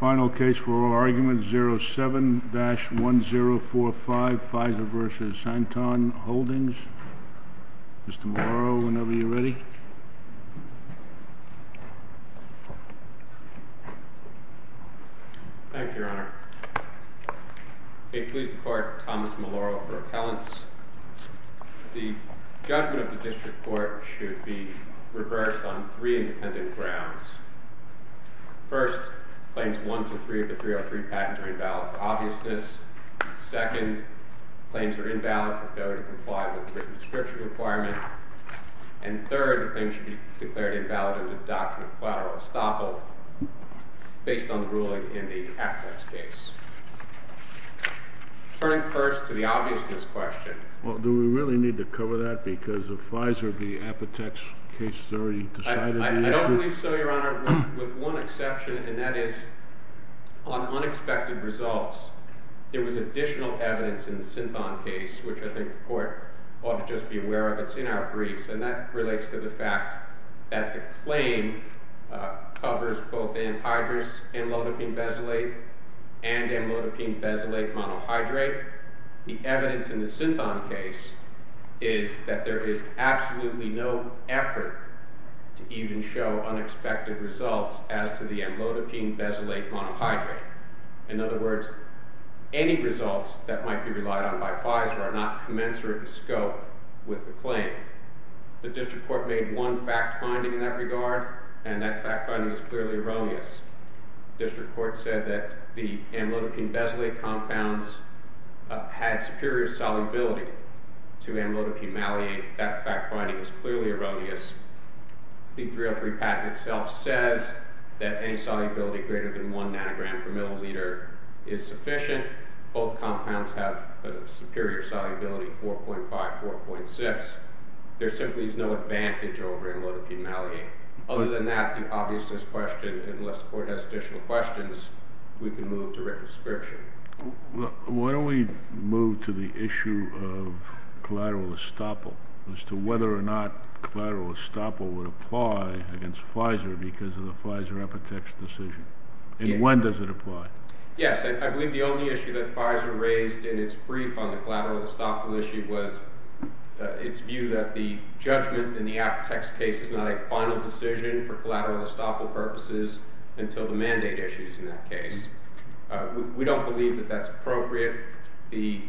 Final case for oral argument, 07-1045, Pfizer v. Synthon Holdings. Mr. Morrow, whenever you're ready. Thank you, Your Honor. May it please the Court, Thomas Morrow for appellants. The judgment of the district court should be reversed on three independent grounds. First, claims 1 to 3 of the 303 patent are invalid for obviousness. Second, claims are invalid for failure to claim should be declared invalid under the doctrine of collateral estoppel based on the ruling in the Apotex case. Turning first to the obviousness question. Well, do we really need to cover that because of Pfizer v. Apotex case has already decided to use it? I don't believe so, Your Honor, with one exception, and that is on unexpected results, there was additional evidence in the Synthon case, which I think the Court ought to just be aware of. It's in our briefs, and that relates to the fact that the claim covers both anhydrous amlodipine-bezylate and amlodipine-bezylate monohydrate. The evidence in the Synthon case is that there is absolutely no effort to even show unexpected results as to the amlodipine-bezylate monohydrate. In other words, any results that might be relied on by Pfizer are not commensurate with scope with the claim. The District Court made one fact-finding in that regard, and that fact-finding is clearly erroneous. The District Court said that the amlodipine-bezylate compounds had superior solubility to amlodipine malate. That fact-finding is clearly erroneous. The 303 patent itself says that any solubility greater than one nanogram per milliliter is There simply is no advantage over amlodipine malate. Other than that, the obviousness question, unless the Court has additional questions, we can move to written description. Why don't we move to the issue of collateral estoppel, as to whether or not collateral estoppel would apply against Pfizer because of the Pfizer Epitex decision? And when does it apply? Yes. I believe the only issue that Pfizer raised in its brief on the collateral estoppel issue was its view that the judgment in the Epitex case is not a final decision for collateral estoppel purposes until the mandate issue is in that case. We don't believe that that's appropriate. The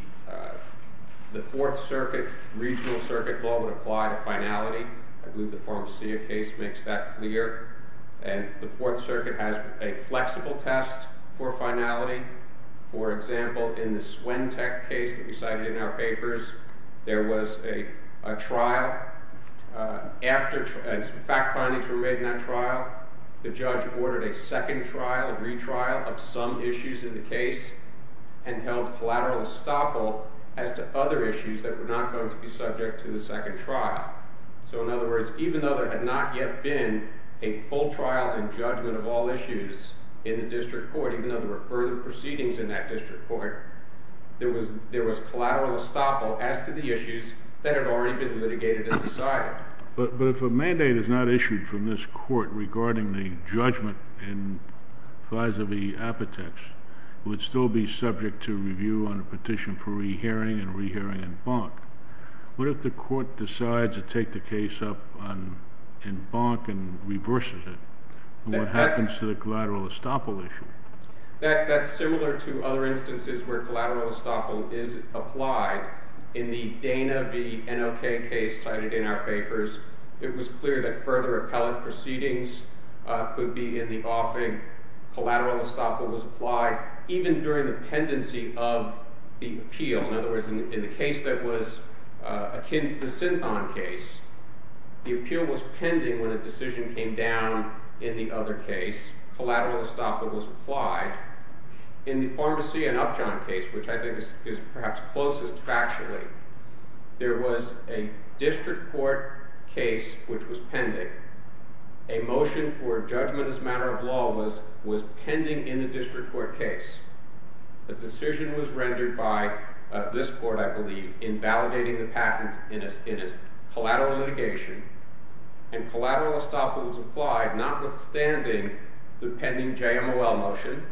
Fourth Circuit, regional circuit law would apply to finality. I believe the Pharmacia case makes that clear. And the Fourth Circuit has a flexible test for finality. For example, in the Swentech case that we cited in our papers, there was a trial. After fact findings were made in that trial, the judge ordered a second trial, a retrial, of some issues in the case and held collateral estoppel as to other issues that were not going to be subject to the second trial. So in other words, even though there had not yet been a full trial and judgment of all issues in the District Court, even though there were further proceedings in that District Court, there was collateral estoppel as to the issues that had already been litigated and decided. But if a mandate is not issued from this Court regarding the judgment in Pfizer v. Epitex, it would still be subject to review on a petition for re-hearing and re-hearing in Bonk. What if the Court decides to take the case up in Bonk and reverses it? What happens to the collateral estoppel issue? That's similar to other instances where collateral estoppel is applied. In the Dana v. NLK case cited in our papers, it was clear that further appellate proceedings could be in the offing. Collateral estoppel was applied even during the pendency of the appeal. In other words, in the case that was akin to the Synthon case, the appeal was pending when the decision came down in the other case. Collateral estoppel was applied. In the Pharmacy v. Upjohn case, which I think is perhaps closest factually, there was a District Court case which was pending. A motion for judgment as a matter of law was pending in the District Court case. The decision was rendered by this Court, I believe, in validating the patent in its collateral litigation. And collateral estoppel was applied notwithstanding the pending JMOL motion,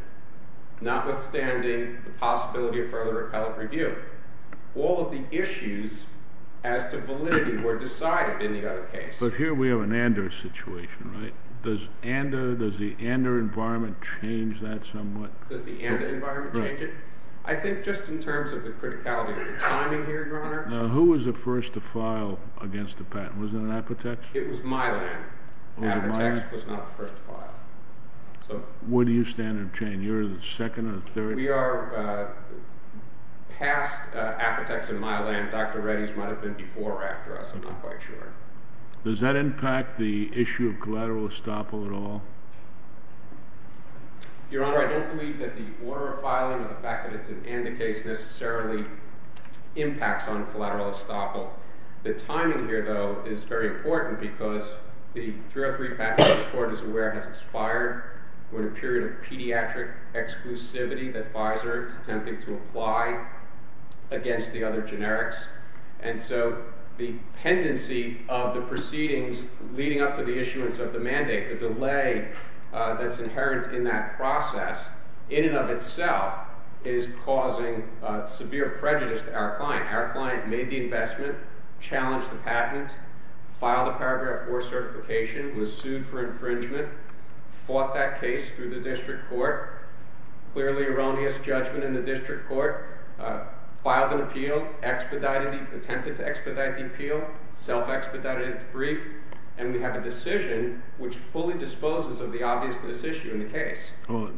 notwithstanding the possibility of further appellate review. All of the issues as to validity were decided in the other case. But here we have an Ander situation, right? Does the Ander environment change that somewhat? Does the Ander environment change it? I think just in terms of the criticality of the timing here, Your Honor. Now, who was the first to file against the patent? Was it Apotex? It was Mylan. Apotex was not the first to file. Where do you stand on the chain? You're the second or the third? We are past Apotex and Mylan. Dr. Reddy's might have been before or after us. I'm not quite sure. Does that impact the issue of collateral estoppel at all? Your Honor, I don't believe that the order of filing or the fact that it's an Ander case necessarily impacts on collateral estoppel. The timing here, though, is very important because the 303 patent, the Court is aware, has expired with a period of pediatric exclusivity that Pfizer is attempting to apply against the other generics. And so the pendency of the proceedings leading up to the issuance of the mandate, the delay that's inherent in that process, in and of itself, is causing severe prejudice to our client. Our client made the investment, challenged the patent, filed a Paragraph 4 certification, was sued for infringement, fought that case through the District Court, clearly erroneous judgment in the District Court, filed an appeal, attempted to expedite the appeal, self-expedited it through the District Court. And we have a decision which fully disposes of the obviousness issue in the case. Well,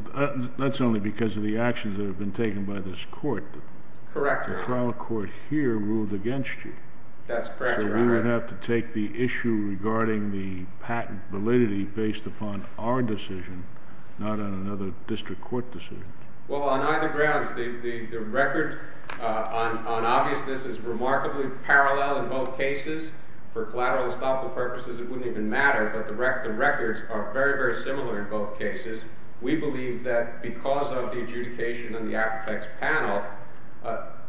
that's only because of the actions that have been taken by this Court. Correct, Your Honor. The trial court here ruled against you. That's correct, Your Honor. So we would have to take the issue regarding the patent validity based upon our decision, not on another District Court decision. Well, on either grounds, the record on obviousness is remarkably parallel in both cases for collateral and estoppel purposes, it wouldn't even matter, but the records are very, very similar in both cases. We believe that because of the adjudication on the Apotex panel,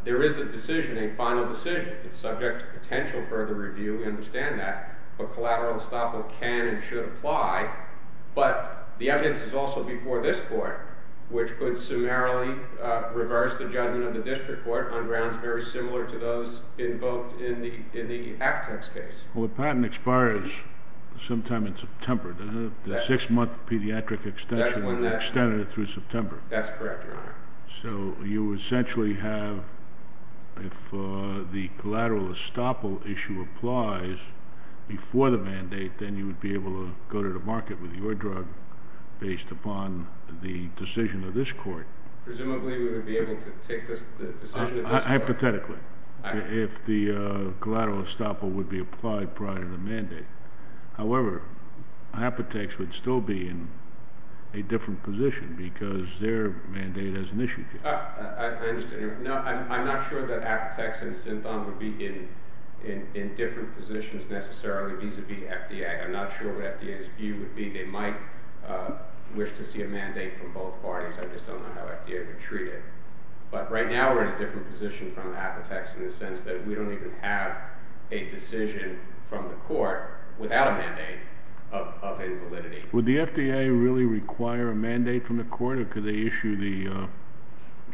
there is a decision, a final decision. It's subject to potential further review, we understand that, but collateral and estoppel can and should apply. But the evidence is also before this Court, which could summarily reverse the judgment of the District Court on grounds very similar to those invoked in the Apotex case. Well, the patent expires sometime in September. The six-month pediatric extension extended it through September. That's correct, Your Honor. So you essentially have, if the collateral estoppel issue applies before the mandate, then you would be able to go to the market with your drug based upon the decision of this Court. Presumably we would be able to take the decision of this Court. Hypothetically, if the collateral estoppel would be applied prior to the mandate. However, Apotex would still be in a different position because their mandate has an issue. I understand. I'm not sure that Apotex and Synthon would be in different positions necessarily vis-a-vis FDA. I'm not sure what FDA's view would be. They might wish to see a mandate from both parties. I just don't know how FDA would treat it. But right now we're in a different position from Apotex in the sense that we don't even have a decision from the Court without a mandate of invalidity. Would the FDA really require a mandate from the Court or could they issue the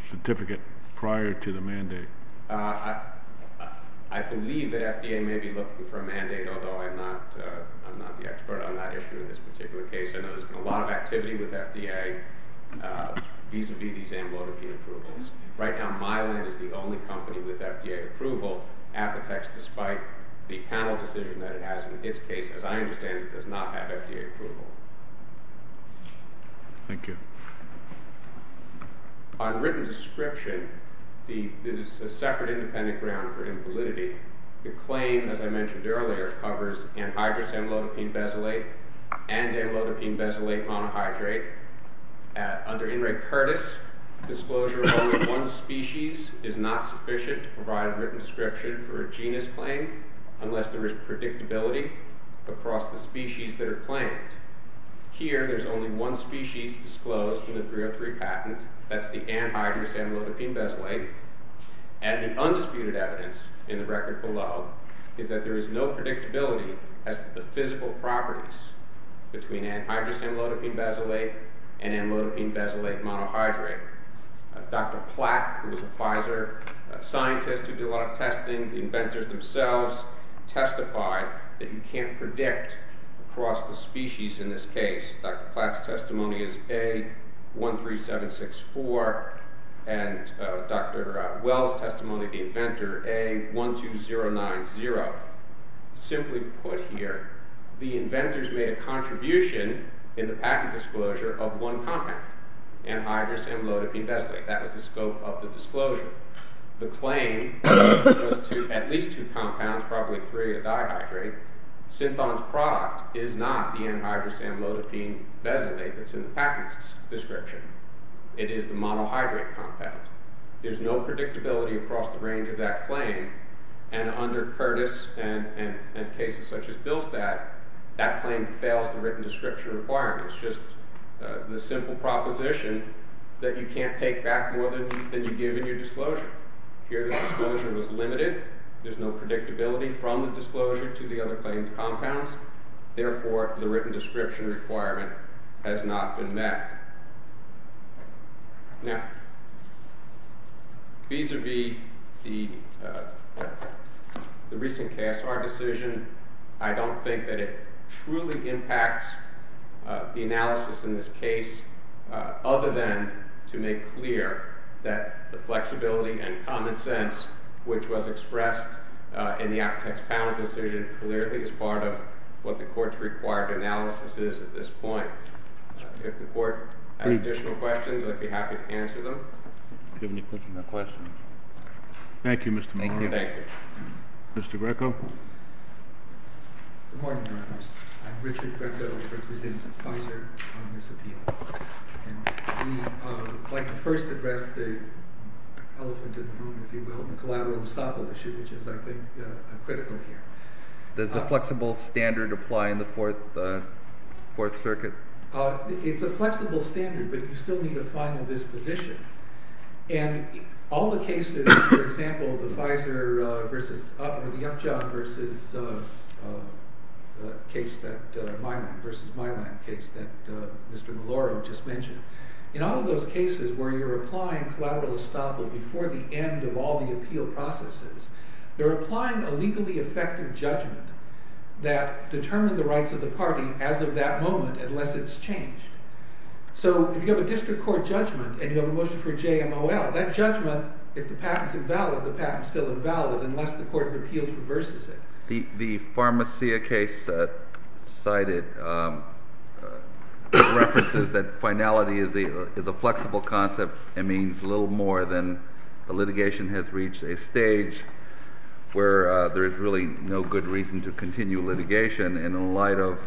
certificate prior to the mandate? I believe that FDA may be looking for a mandate, although I'm not the expert on that issue in this particular case. I know there's been a lot of activity with FDA vis-a-vis these two cases, and I understand that Highland is the only company with FDA approval. Apotex, despite the panel decision that it has in its case, as I understand it, does not have FDA approval. Thank you. On written description, this is a separate independent ground for invalidity. The claim, as I mentioned earlier, covers anhydrous amylodipine-besalate and amylodipine-besalate monohydrate. Under In re Curtis, disclosure of only one species is not sufficient to provide a written description for a genus claim unless there is predictability across the species that are claimed. Here, there's only one species disclosed in the 303 patent. That's the anhydrous amylodipine-besalate. And the undisputed evidence in the record below is that there is no predictability as to the physical properties between anhydrous amylodipine-besalate and amylodipine-besalate monohydrate. Dr. Platt, who was a Pfizer scientist who did a lot of testing, the inventors themselves, testified that you can't predict across the species in this case. Dr. Platt's testimony is A13764, and Dr. Wells' testimony, the inventor, A12090. Simply put here, the inventors made a contribution in the patent disclosure of one compound, anhydrous amylodipine-besalate. That was the scope of the disclosure. The claim was to at least two compounds, probably three of dihydrate. Synthon's product is not the anhydrous amylodipine-besalate that's in the patent description. It is the monohydrate compound. There's no predictability across the range of that claim, and under Curtis and cases such as Bilstadt, that claim fails the written description requirements. It's just the simple proposition that you can't take back more than you give in your disclosure. Here, the disclosure was limited. There's no predictability from the disclosure to the Vis-a-vis the recent KSR decision, I don't think that it truly impacts the analysis in this case, other than to make clear that the flexibility and common sense, which was expressed in the aptex panel decision, clearly is part of what the court's required analysis is at this point. If the court has additional questions, I'd be happy to answer them. Thank you, Mr. Monroe. Thank you. Mr. Greco. Good morning, Your Honors. I'm Richard Greco. I represent Pfizer on this appeal. We'd like to first address the elephant in the room, if you will, the collateral estoppel issue, which is, I think, critical here. Does a flexible standard apply in the Fourth Circuit? It's a flexible standard, but you still need a final disposition. And all the cases, for example, the Pfizer versus, or the Upjohn versus case that, Mylan versus Mylan case that Mr. Maloro just mentioned, in all of those cases where you're applying collateral estoppel before the end of all the appeal processes, they're applying a legally effective judgment that determined the rights of the party as of that moment, unless it's changed. So if you have a district court judgment and you have a motion for JMOL, that judgment, if the patent's invalid, the patent's still invalid unless the court of appeals reverses it. The Pharmacia case cited references that finality is a flexible concept. It means a little more than the litigation has reached a stage where there is really no good reason to continue litigation. And in light of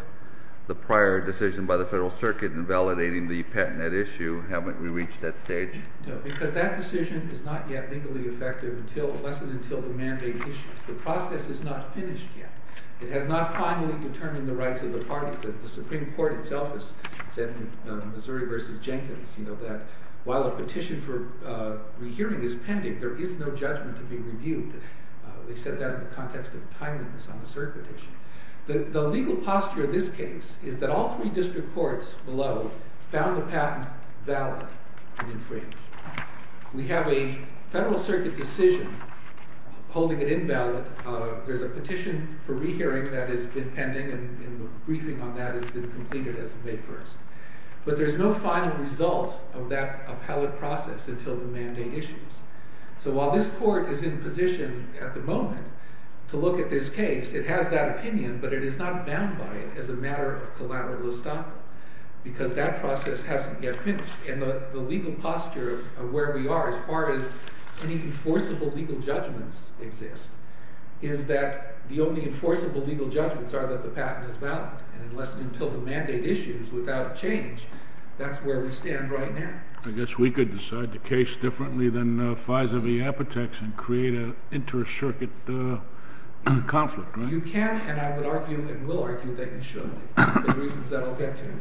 the prior decision by the Federal Circuit in validating the patent at issue, haven't we reached that stage? No, because that decision is not yet legally effective unless and until the mandate issues. The process is not finished yet. It has not finally determined the rights of the parties. As the Supreme Court itself has said in Missouri versus Jenkins, that while a petition for rehearing is pending, there is no judgment to be reviewed. They said that in the context of timeliness on the cert petition. The legal posture of this case is that all three district courts below found the patent valid and infringed. We have a Federal Circuit decision holding it invalid. There's a petition for rehearing that has been pending and a briefing on that has been completed as of May 1st. But there's no final result of that appellate process until the mandate issues. So while this court is in position at the moment to look at this case, it has that opinion, but it is not bound by it as a matter of collateral estoppel because that process hasn't yet finished. And the legal posture of where we are as far as any enforceable legal judgments exist is that the only enforceable legal judgments are that the patent is valid. And unless and until the mandate issues without a change, that's where we stand right now. I guess we could decide the case differently than FISA v. Apotex and create an inter-circuit conflict, right? You can, and I would argue and will argue that you should for the reasons that I'll get to.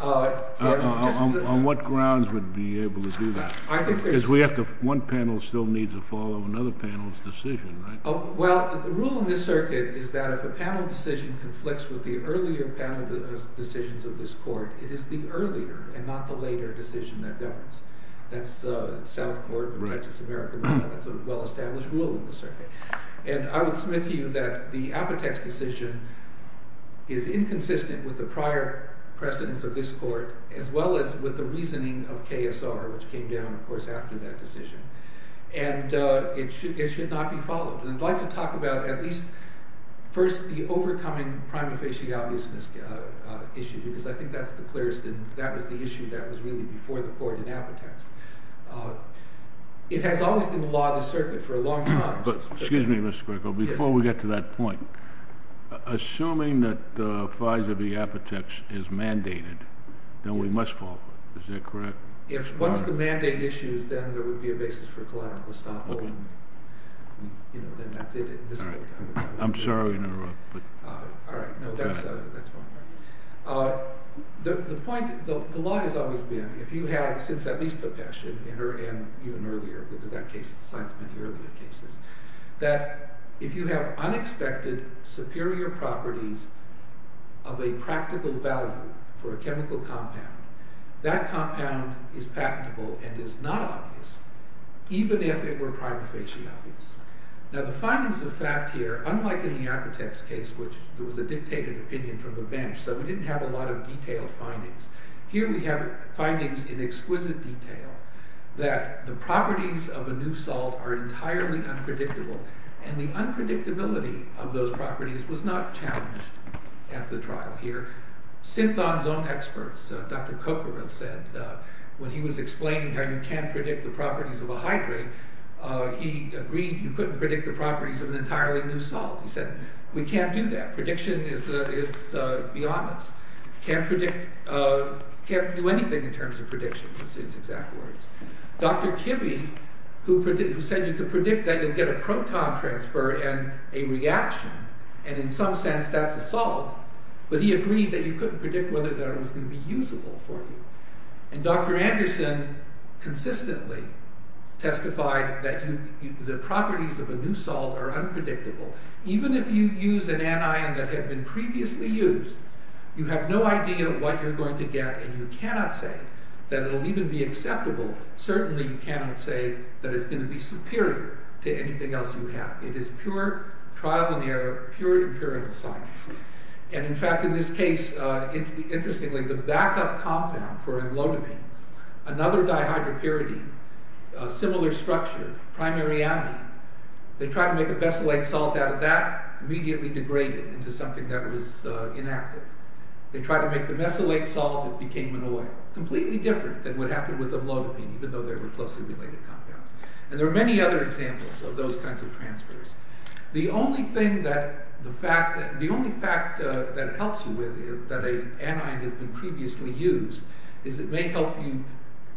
On what grounds would we be able to do that? I think there's... Because one panel still needs to follow another panel's decision, right? Well, the rule in this circuit is that if a panel decision conflicts with the earlier panel decisions of this court, it is the earlier and not the later decision that governs. That's the South Court of Texas American Law. That's a well-established rule in the circuit. And I would submit to you that the Apotex decision is inconsistent with the prior precedence of this court as well as with the reasoning of KSR, which came down, of course, after that I'd like to talk about at least first the overcoming prima facie obviousness issue because I think that's the clearest and that was the issue that was really before the court in Apotex. It has always been the law of the circuit for a long time. Excuse me, Mr. Greco. Before we get to that point, assuming that FISA v. Apotex is mandated, then we must fall for it. Is that correct? If once the mandate issues, then there would be a basis for collateral estoppel. Okay. You know, then that's it. I'm sorry to interrupt. All right. No, that's fine. The point, the law has always been if you have, since at least Popesh and even earlier, because that case cites many earlier cases, that if you have unexpected superior properties of a practical value for a chemical compound, that compound is patentable and is not obvious even if it were prima facie obvious. Now the findings of fact here, unlike in the Apotex case, which there was a dictated opinion from the bench, so we didn't have a lot of detailed findings. Here we have findings in exquisite detail that the properties of a new salt are entirely unpredictable. And the unpredictability of those properties was not challenged at the trial here. Synthon's own experts, Dr. Coquerel said, when he was explaining how you can't predict the properties of a hydrate, he agreed you couldn't predict the properties of an entirely new salt. He said, we can't do that. Prediction is beyond us. Can't predict, can't do anything in terms of prediction is his exact words. Dr. Kibbe, who said you can predict that you'll get a proton transfer and a reaction, and in some sense that's a salt, but he agreed that you couldn't predict whether it was going to be usable for you. And Dr. Anderson consistently testified that the properties of a new salt are unpredictable. Even if you use an anion that had been previously used, you have no idea what you're going to get and you cannot say that it will even be acceptable. Certainly you cannot say that it's going to be superior to anything else you have. It is pure trial and error, pure empirical science. And in fact in this case, interestingly, the backup compound for amlodipine, another dihydropyridine, similar structure, primary amine, they tried to make a mesylate salt out of that, immediately degraded into something that was inactive. They tried to make the mesylate salt, it became an oil. Completely different than what happened with amlodipine, even though they were closely related compounds. And there are many other examples of those kinds of transfers. The only thing that, the fact, the only fact that it helps you with, that an anion had been previously used, is it may help you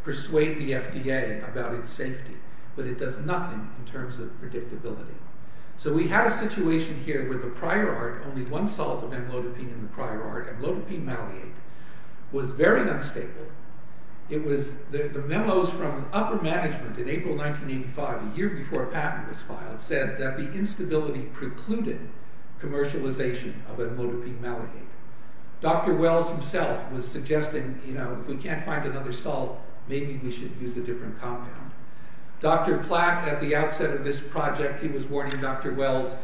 persuade the FDA about its safety, but it does nothing in terms of predictability. So we had a situation here where the prior art, only one salt of amlodipine in the prior art, amlodipine maliate, was very unstable. It was, the memos from upper management in April 1985, a year before a patent was filed, said that the instability precluded commercialization of amlodipine maliate. Dr. Wells himself was suggesting, you know, if we can't find another salt, maybe we should use a different compound. Dr. Platt, at the outset of this project, he was warning Dr. Wells,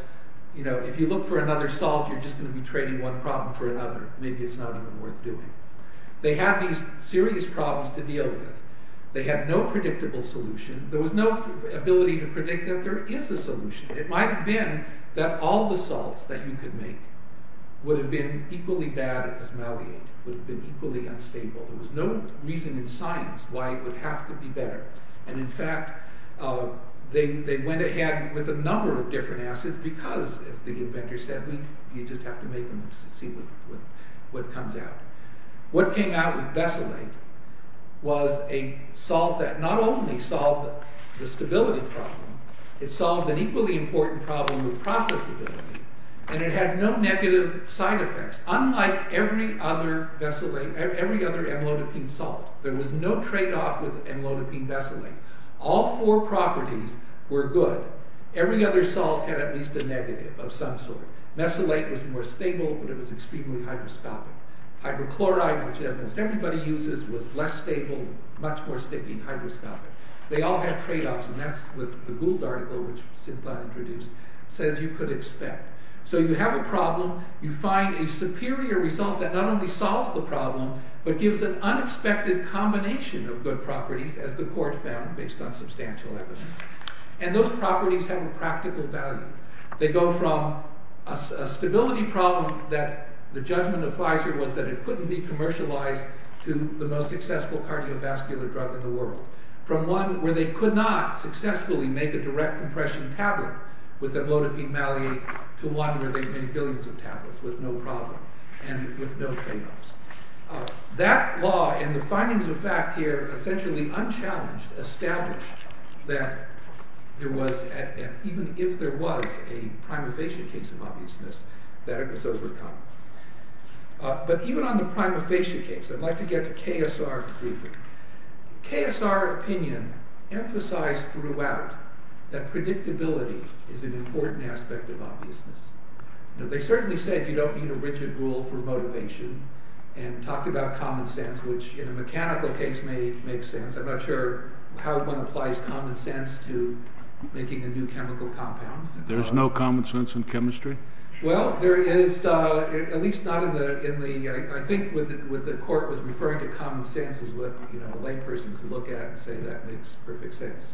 you know, if you look for another salt, you're just going to be trading one problem for another. Maybe it's not even worth doing. They had these serious problems to deal with. They had no predictable solution. There was no ability to predict that there is a solution. It might have been that all the salts that you could make would have been equally bad as maliate, would have been equally unstable. There was no reason in science why it would have to be better, and in fact, they went ahead with a number of different acids because, as the inventor said, you just have to make them and see what comes out. What came out with Bessalate was a salt that not only solved the stability problem, it solved an equally important problem with processability, and it had no negative side effects, unlike every other amlodipine salt. There was no trade-off with amlodipine Bessalate. All four properties were good. Every other salt had at least a negative of some sort. Bessalate was more stable, but it was extremely hygroscopic. Hydrochloride, which almost everybody uses, was less stable, much more sticky, hygroscopic. They all had trade-offs, and that's what the Gould article, which Sid Platt introduced, says you could expect. So you have a problem, you find a superior result that not only solves the problem, but gives an unexpected combination of good properties, as the court found based on substantial evidence, and those properties have a practical value. They go from a stability problem that the judgment of Pfizer was that it couldn't be commercialized to the most successful cardiovascular drug in the world, from one where they could not successfully make a direct compression tablet with amlodipine malate to one where they've made billions of tablets with no problem and with no trade-offs. That law and the findings of fact here, essentially unchallenged, established that there was, even if there was a prima facie case of obviousness, that it was overcome. But even on the prima facie case, I'd like to get to KSR briefly. KSR opinion emphasized throughout that predictability is an important aspect of obviousness. They certainly said you don't need a rigid rule for motivation, and talked about common sense, which in a mechanical case may make sense. I'm not sure how one applies common sense to making a new chemical compound. There's no common sense in chemistry? Well, there is, at least not in the, I think what the court was referring to common sense is what a layperson could look at and say that makes perfect sense.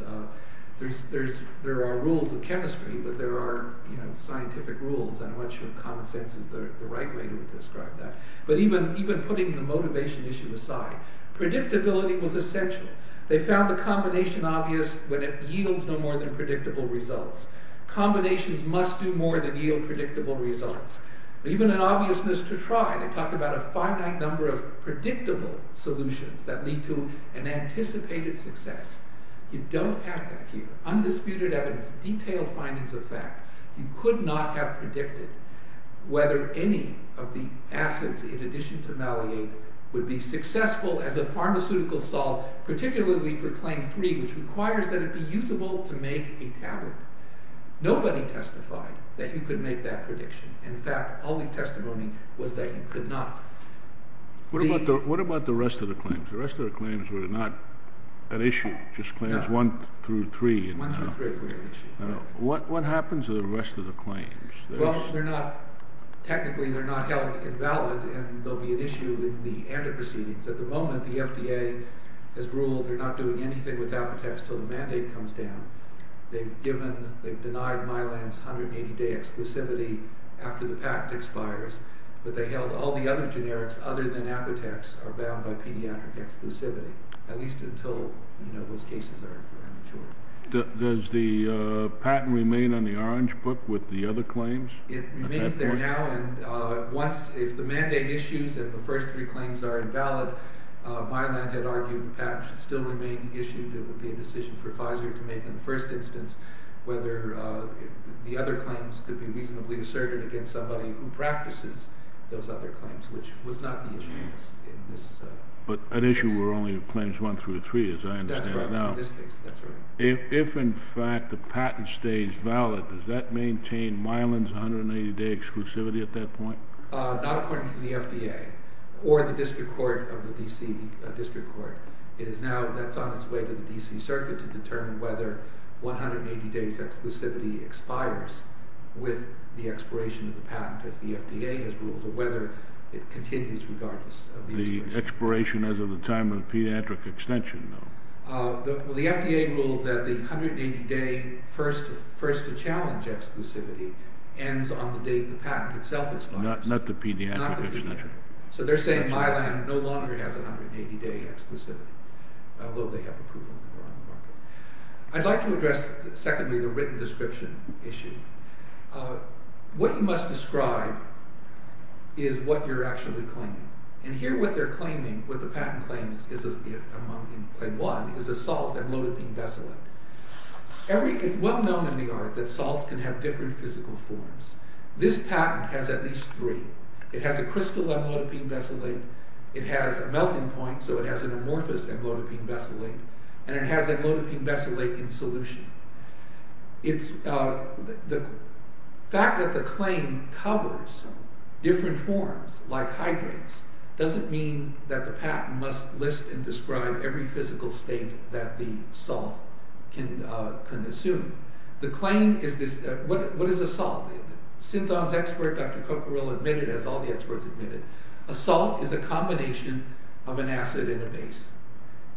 There are rules in chemistry, but there are scientific rules. I'm not sure common sense is the right way to describe that. But even putting the motivation issue aside, predictability was essential. They found the combination obvious when it yields no more than predictable results. Combinations must do more than yield predictable results. Even in obviousness to try, they talked about a finite number of predictable solutions that lead to an anticipated success. You don't have that here. Undisputed evidence, detailed findings of fact. You could not have predicted whether any of the acids in addition to maliate would be successful as a pharmaceutical solve, particularly for claim three, which requires that it be usable to make a tablet. Nobody testified that you could make that prediction. In fact, all the testimony was that you could not. What about the rest of the claims? The rest of the claims were not an issue, just claims one through three. One through three were an issue. What happens to the rest of the claims? Well, they're not, technically they're not held invalid and they'll be an issue in the antecedents. At the moment, the FDA has ruled they're not doing anything with Apotex until the mandate comes down. They've denied Mylan's 180-day exclusivity after the patent expires, but they held all the other generics other than Apotex are bound by pediatric exclusivity, at least until those cases are mature. Does the patent remain on the orange book with the other claims? It remains there now. If the mandate issues and the first three claims are invalid, Mylan had argued the patent should still remain issued. It would be a decision for Pfizer to make in the first instance whether the other claims could be reasonably asserted against somebody who practices those other claims, which was not the issue in this case. But an issue were only claims one through three, as I understand it now. That's right. In this case, that's right. If, in fact, the patent stays valid, does that maintain Mylan's 180-day exclusivity at that point? Not according to the FDA or the district court of the D.C. district court. That's on its way to the D.C. circuit to determine whether 180-day exclusivity expires with the expiration of the patent, as the FDA has ruled, or whether it continues regardless of the expiration. The expiration as of the time of the pediatric extension, though. The FDA ruled that the 180-day first-to-challenge exclusivity ends on the date the patent itself Not the pediatric extension. Not the pediatric. They're saying Mylan no longer has 180-day exclusivity, although they have approval on the market. I'd like to address, secondly, the written description issue. What you must describe is what you're actually claiming. And here, what they're claiming, what the patent claims, among claim one, is a salt amlodipine besulate. It's well known in the art that salts can have different physical forms. This patent has at least three. It has a crystal amlodipine besulate. It has a melting point, so it has an amorphous amlodipine besulate. And it has amlodipine besulate in solution. The fact that the claim covers different forms, like hydrates, doesn't mean that the patent must list and describe every physical state that the salt can assume. The claim is this, what is a salt? A salt is a combination of an acid and a base.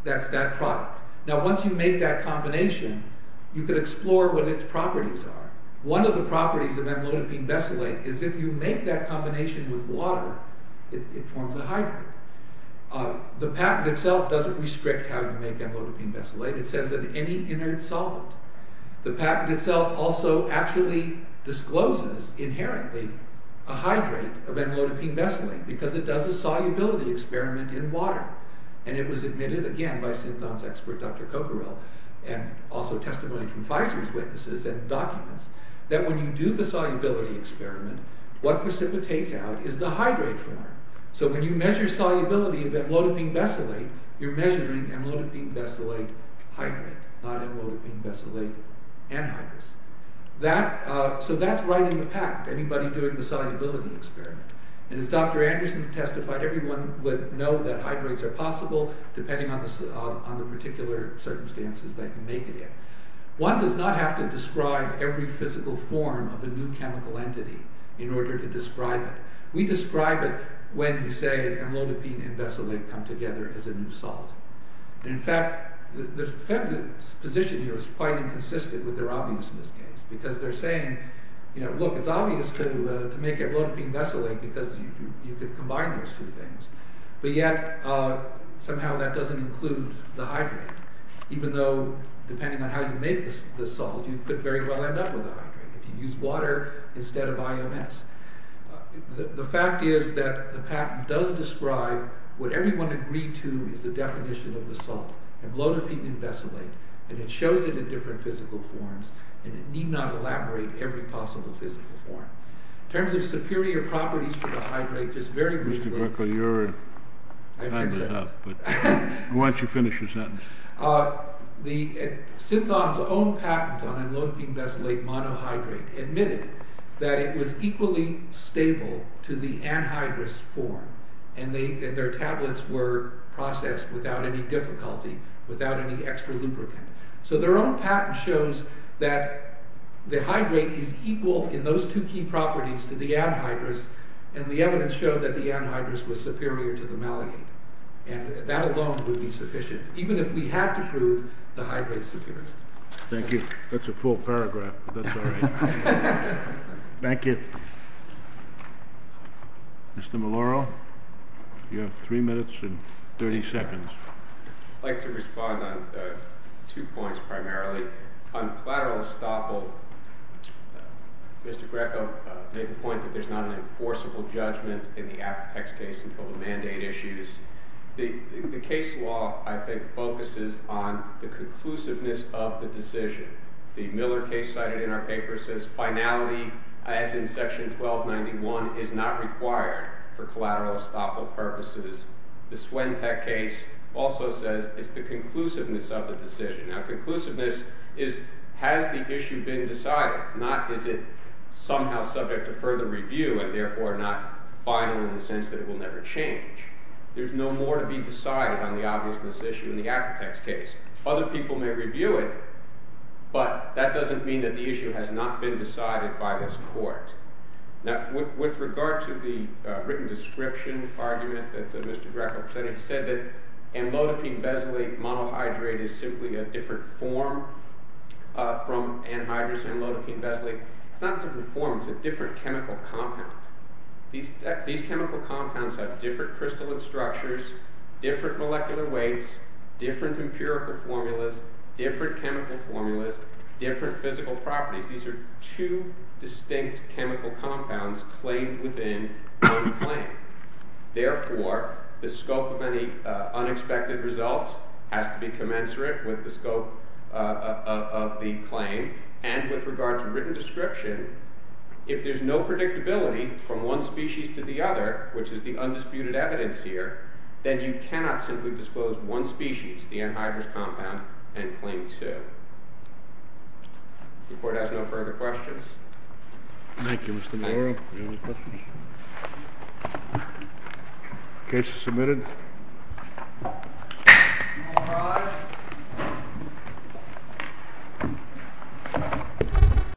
That's that product. Now once you make that combination, you can explore what its properties are. One of the properties of amlodipine besulate is if you make that combination with water, it forms a hydrate. The patent itself doesn't restrict how you make amlodipine besulate. It says that any inert solvent. The patent itself also actually discloses inherently a hydrate of amlodipine besulate because it does a solubility experiment in water. And it was admitted again by Synthon's expert, Dr. Cocquerel, and also testimony from Pfizer's witnesses and documents, that when you do the solubility experiment, what precipitates out is the hydrate form. So when you measure solubility of amlodipine besulate, you're measuring amlodipine besulate hydrate, not amlodipine besulate anhydrous. So that's right in the patent, anybody doing the solubility experiment. And as Dr. Anderson testified, everyone would know that hydrates are possible depending on the particular circumstances that you make it in. One does not have to describe every physical form of a new chemical entity in order to describe it. We describe it when we say amlodipine and besulate come together as a new salt. And in fact, the position here is quite inconsistent with their obviousness case. Because they're saying, look, it's obvious to make amlodipine besulate because you could combine those two things. But yet, somehow that doesn't include the hydrate. Even though, depending on how you make the salt, you could very well end up with a hydrate if you use water instead of IMS. The fact is that the patent does describe what everyone agreed to is the definition of the salt, amlodipine and besulate. And it shows it in different physical forms. And it need not elaborate every possible physical form. In terms of superior properties for the hydrate, just very briefly. Mr. Burkle, your time is up. Why don't you finish your sentence? Synthon's own patent on amlodipine besulate monohydrate admitted that it was equally stable to the anhydrous form. And their tablets were processed without any difficulty, without any extra lubricant. So their own patent shows that the hydrate is equal in those two key properties to the anhydrous, and the evidence showed that the anhydrous was superior to the maliate. And that alone would be sufficient. Even if we had to prove the hydrate's superiority. Thank you. That's a full paragraph, but that's all right. Thank you. Mr. Maloro, you have three minutes and 30 seconds. I'd like to respond on two points primarily. On collateral estoppel, Mr. Greco made the point that there's not an enforceable judgment in the Apotex case until the mandate issues. The case law, I think, focuses on the conclusiveness of the decision. The Miller case cited in our paper says finality, as in section 1291, is not required for collateral estoppel purposes. The Swentech case also says it's the conclusiveness of the decision. Now conclusiveness is has the issue been decided, not is it somehow subject to further review and therefore not final in the sense that it will never change. There's no more to be decided on the obviousness issue in the Apotex case. Other people may review it, but that doesn't mean that the issue has not been decided by this court. Now with regard to the written description argument that Mr. Greco presented, he said that amlodipine-besley monohydrate is simply a different form from anhydrous amlodipine-besley. It's not a different form. It's a different chemical compound. These chemical compounds have different crystalline structures, different molecular weights, different empirical formulas, different chemical formulas, different physical properties. These are two distinct chemical compounds claimed within one claim. Therefore, the scope of any unexpected results has to be commensurate with the scope of the written description. If there's no predictability from one species to the other, which is the undisputed evidence here, then you cannot simply disclose one species, the anhydrous compound, and claim two. The court has no further questions. Thank you, Mr. Maloro. Any other questions? Case is submitted.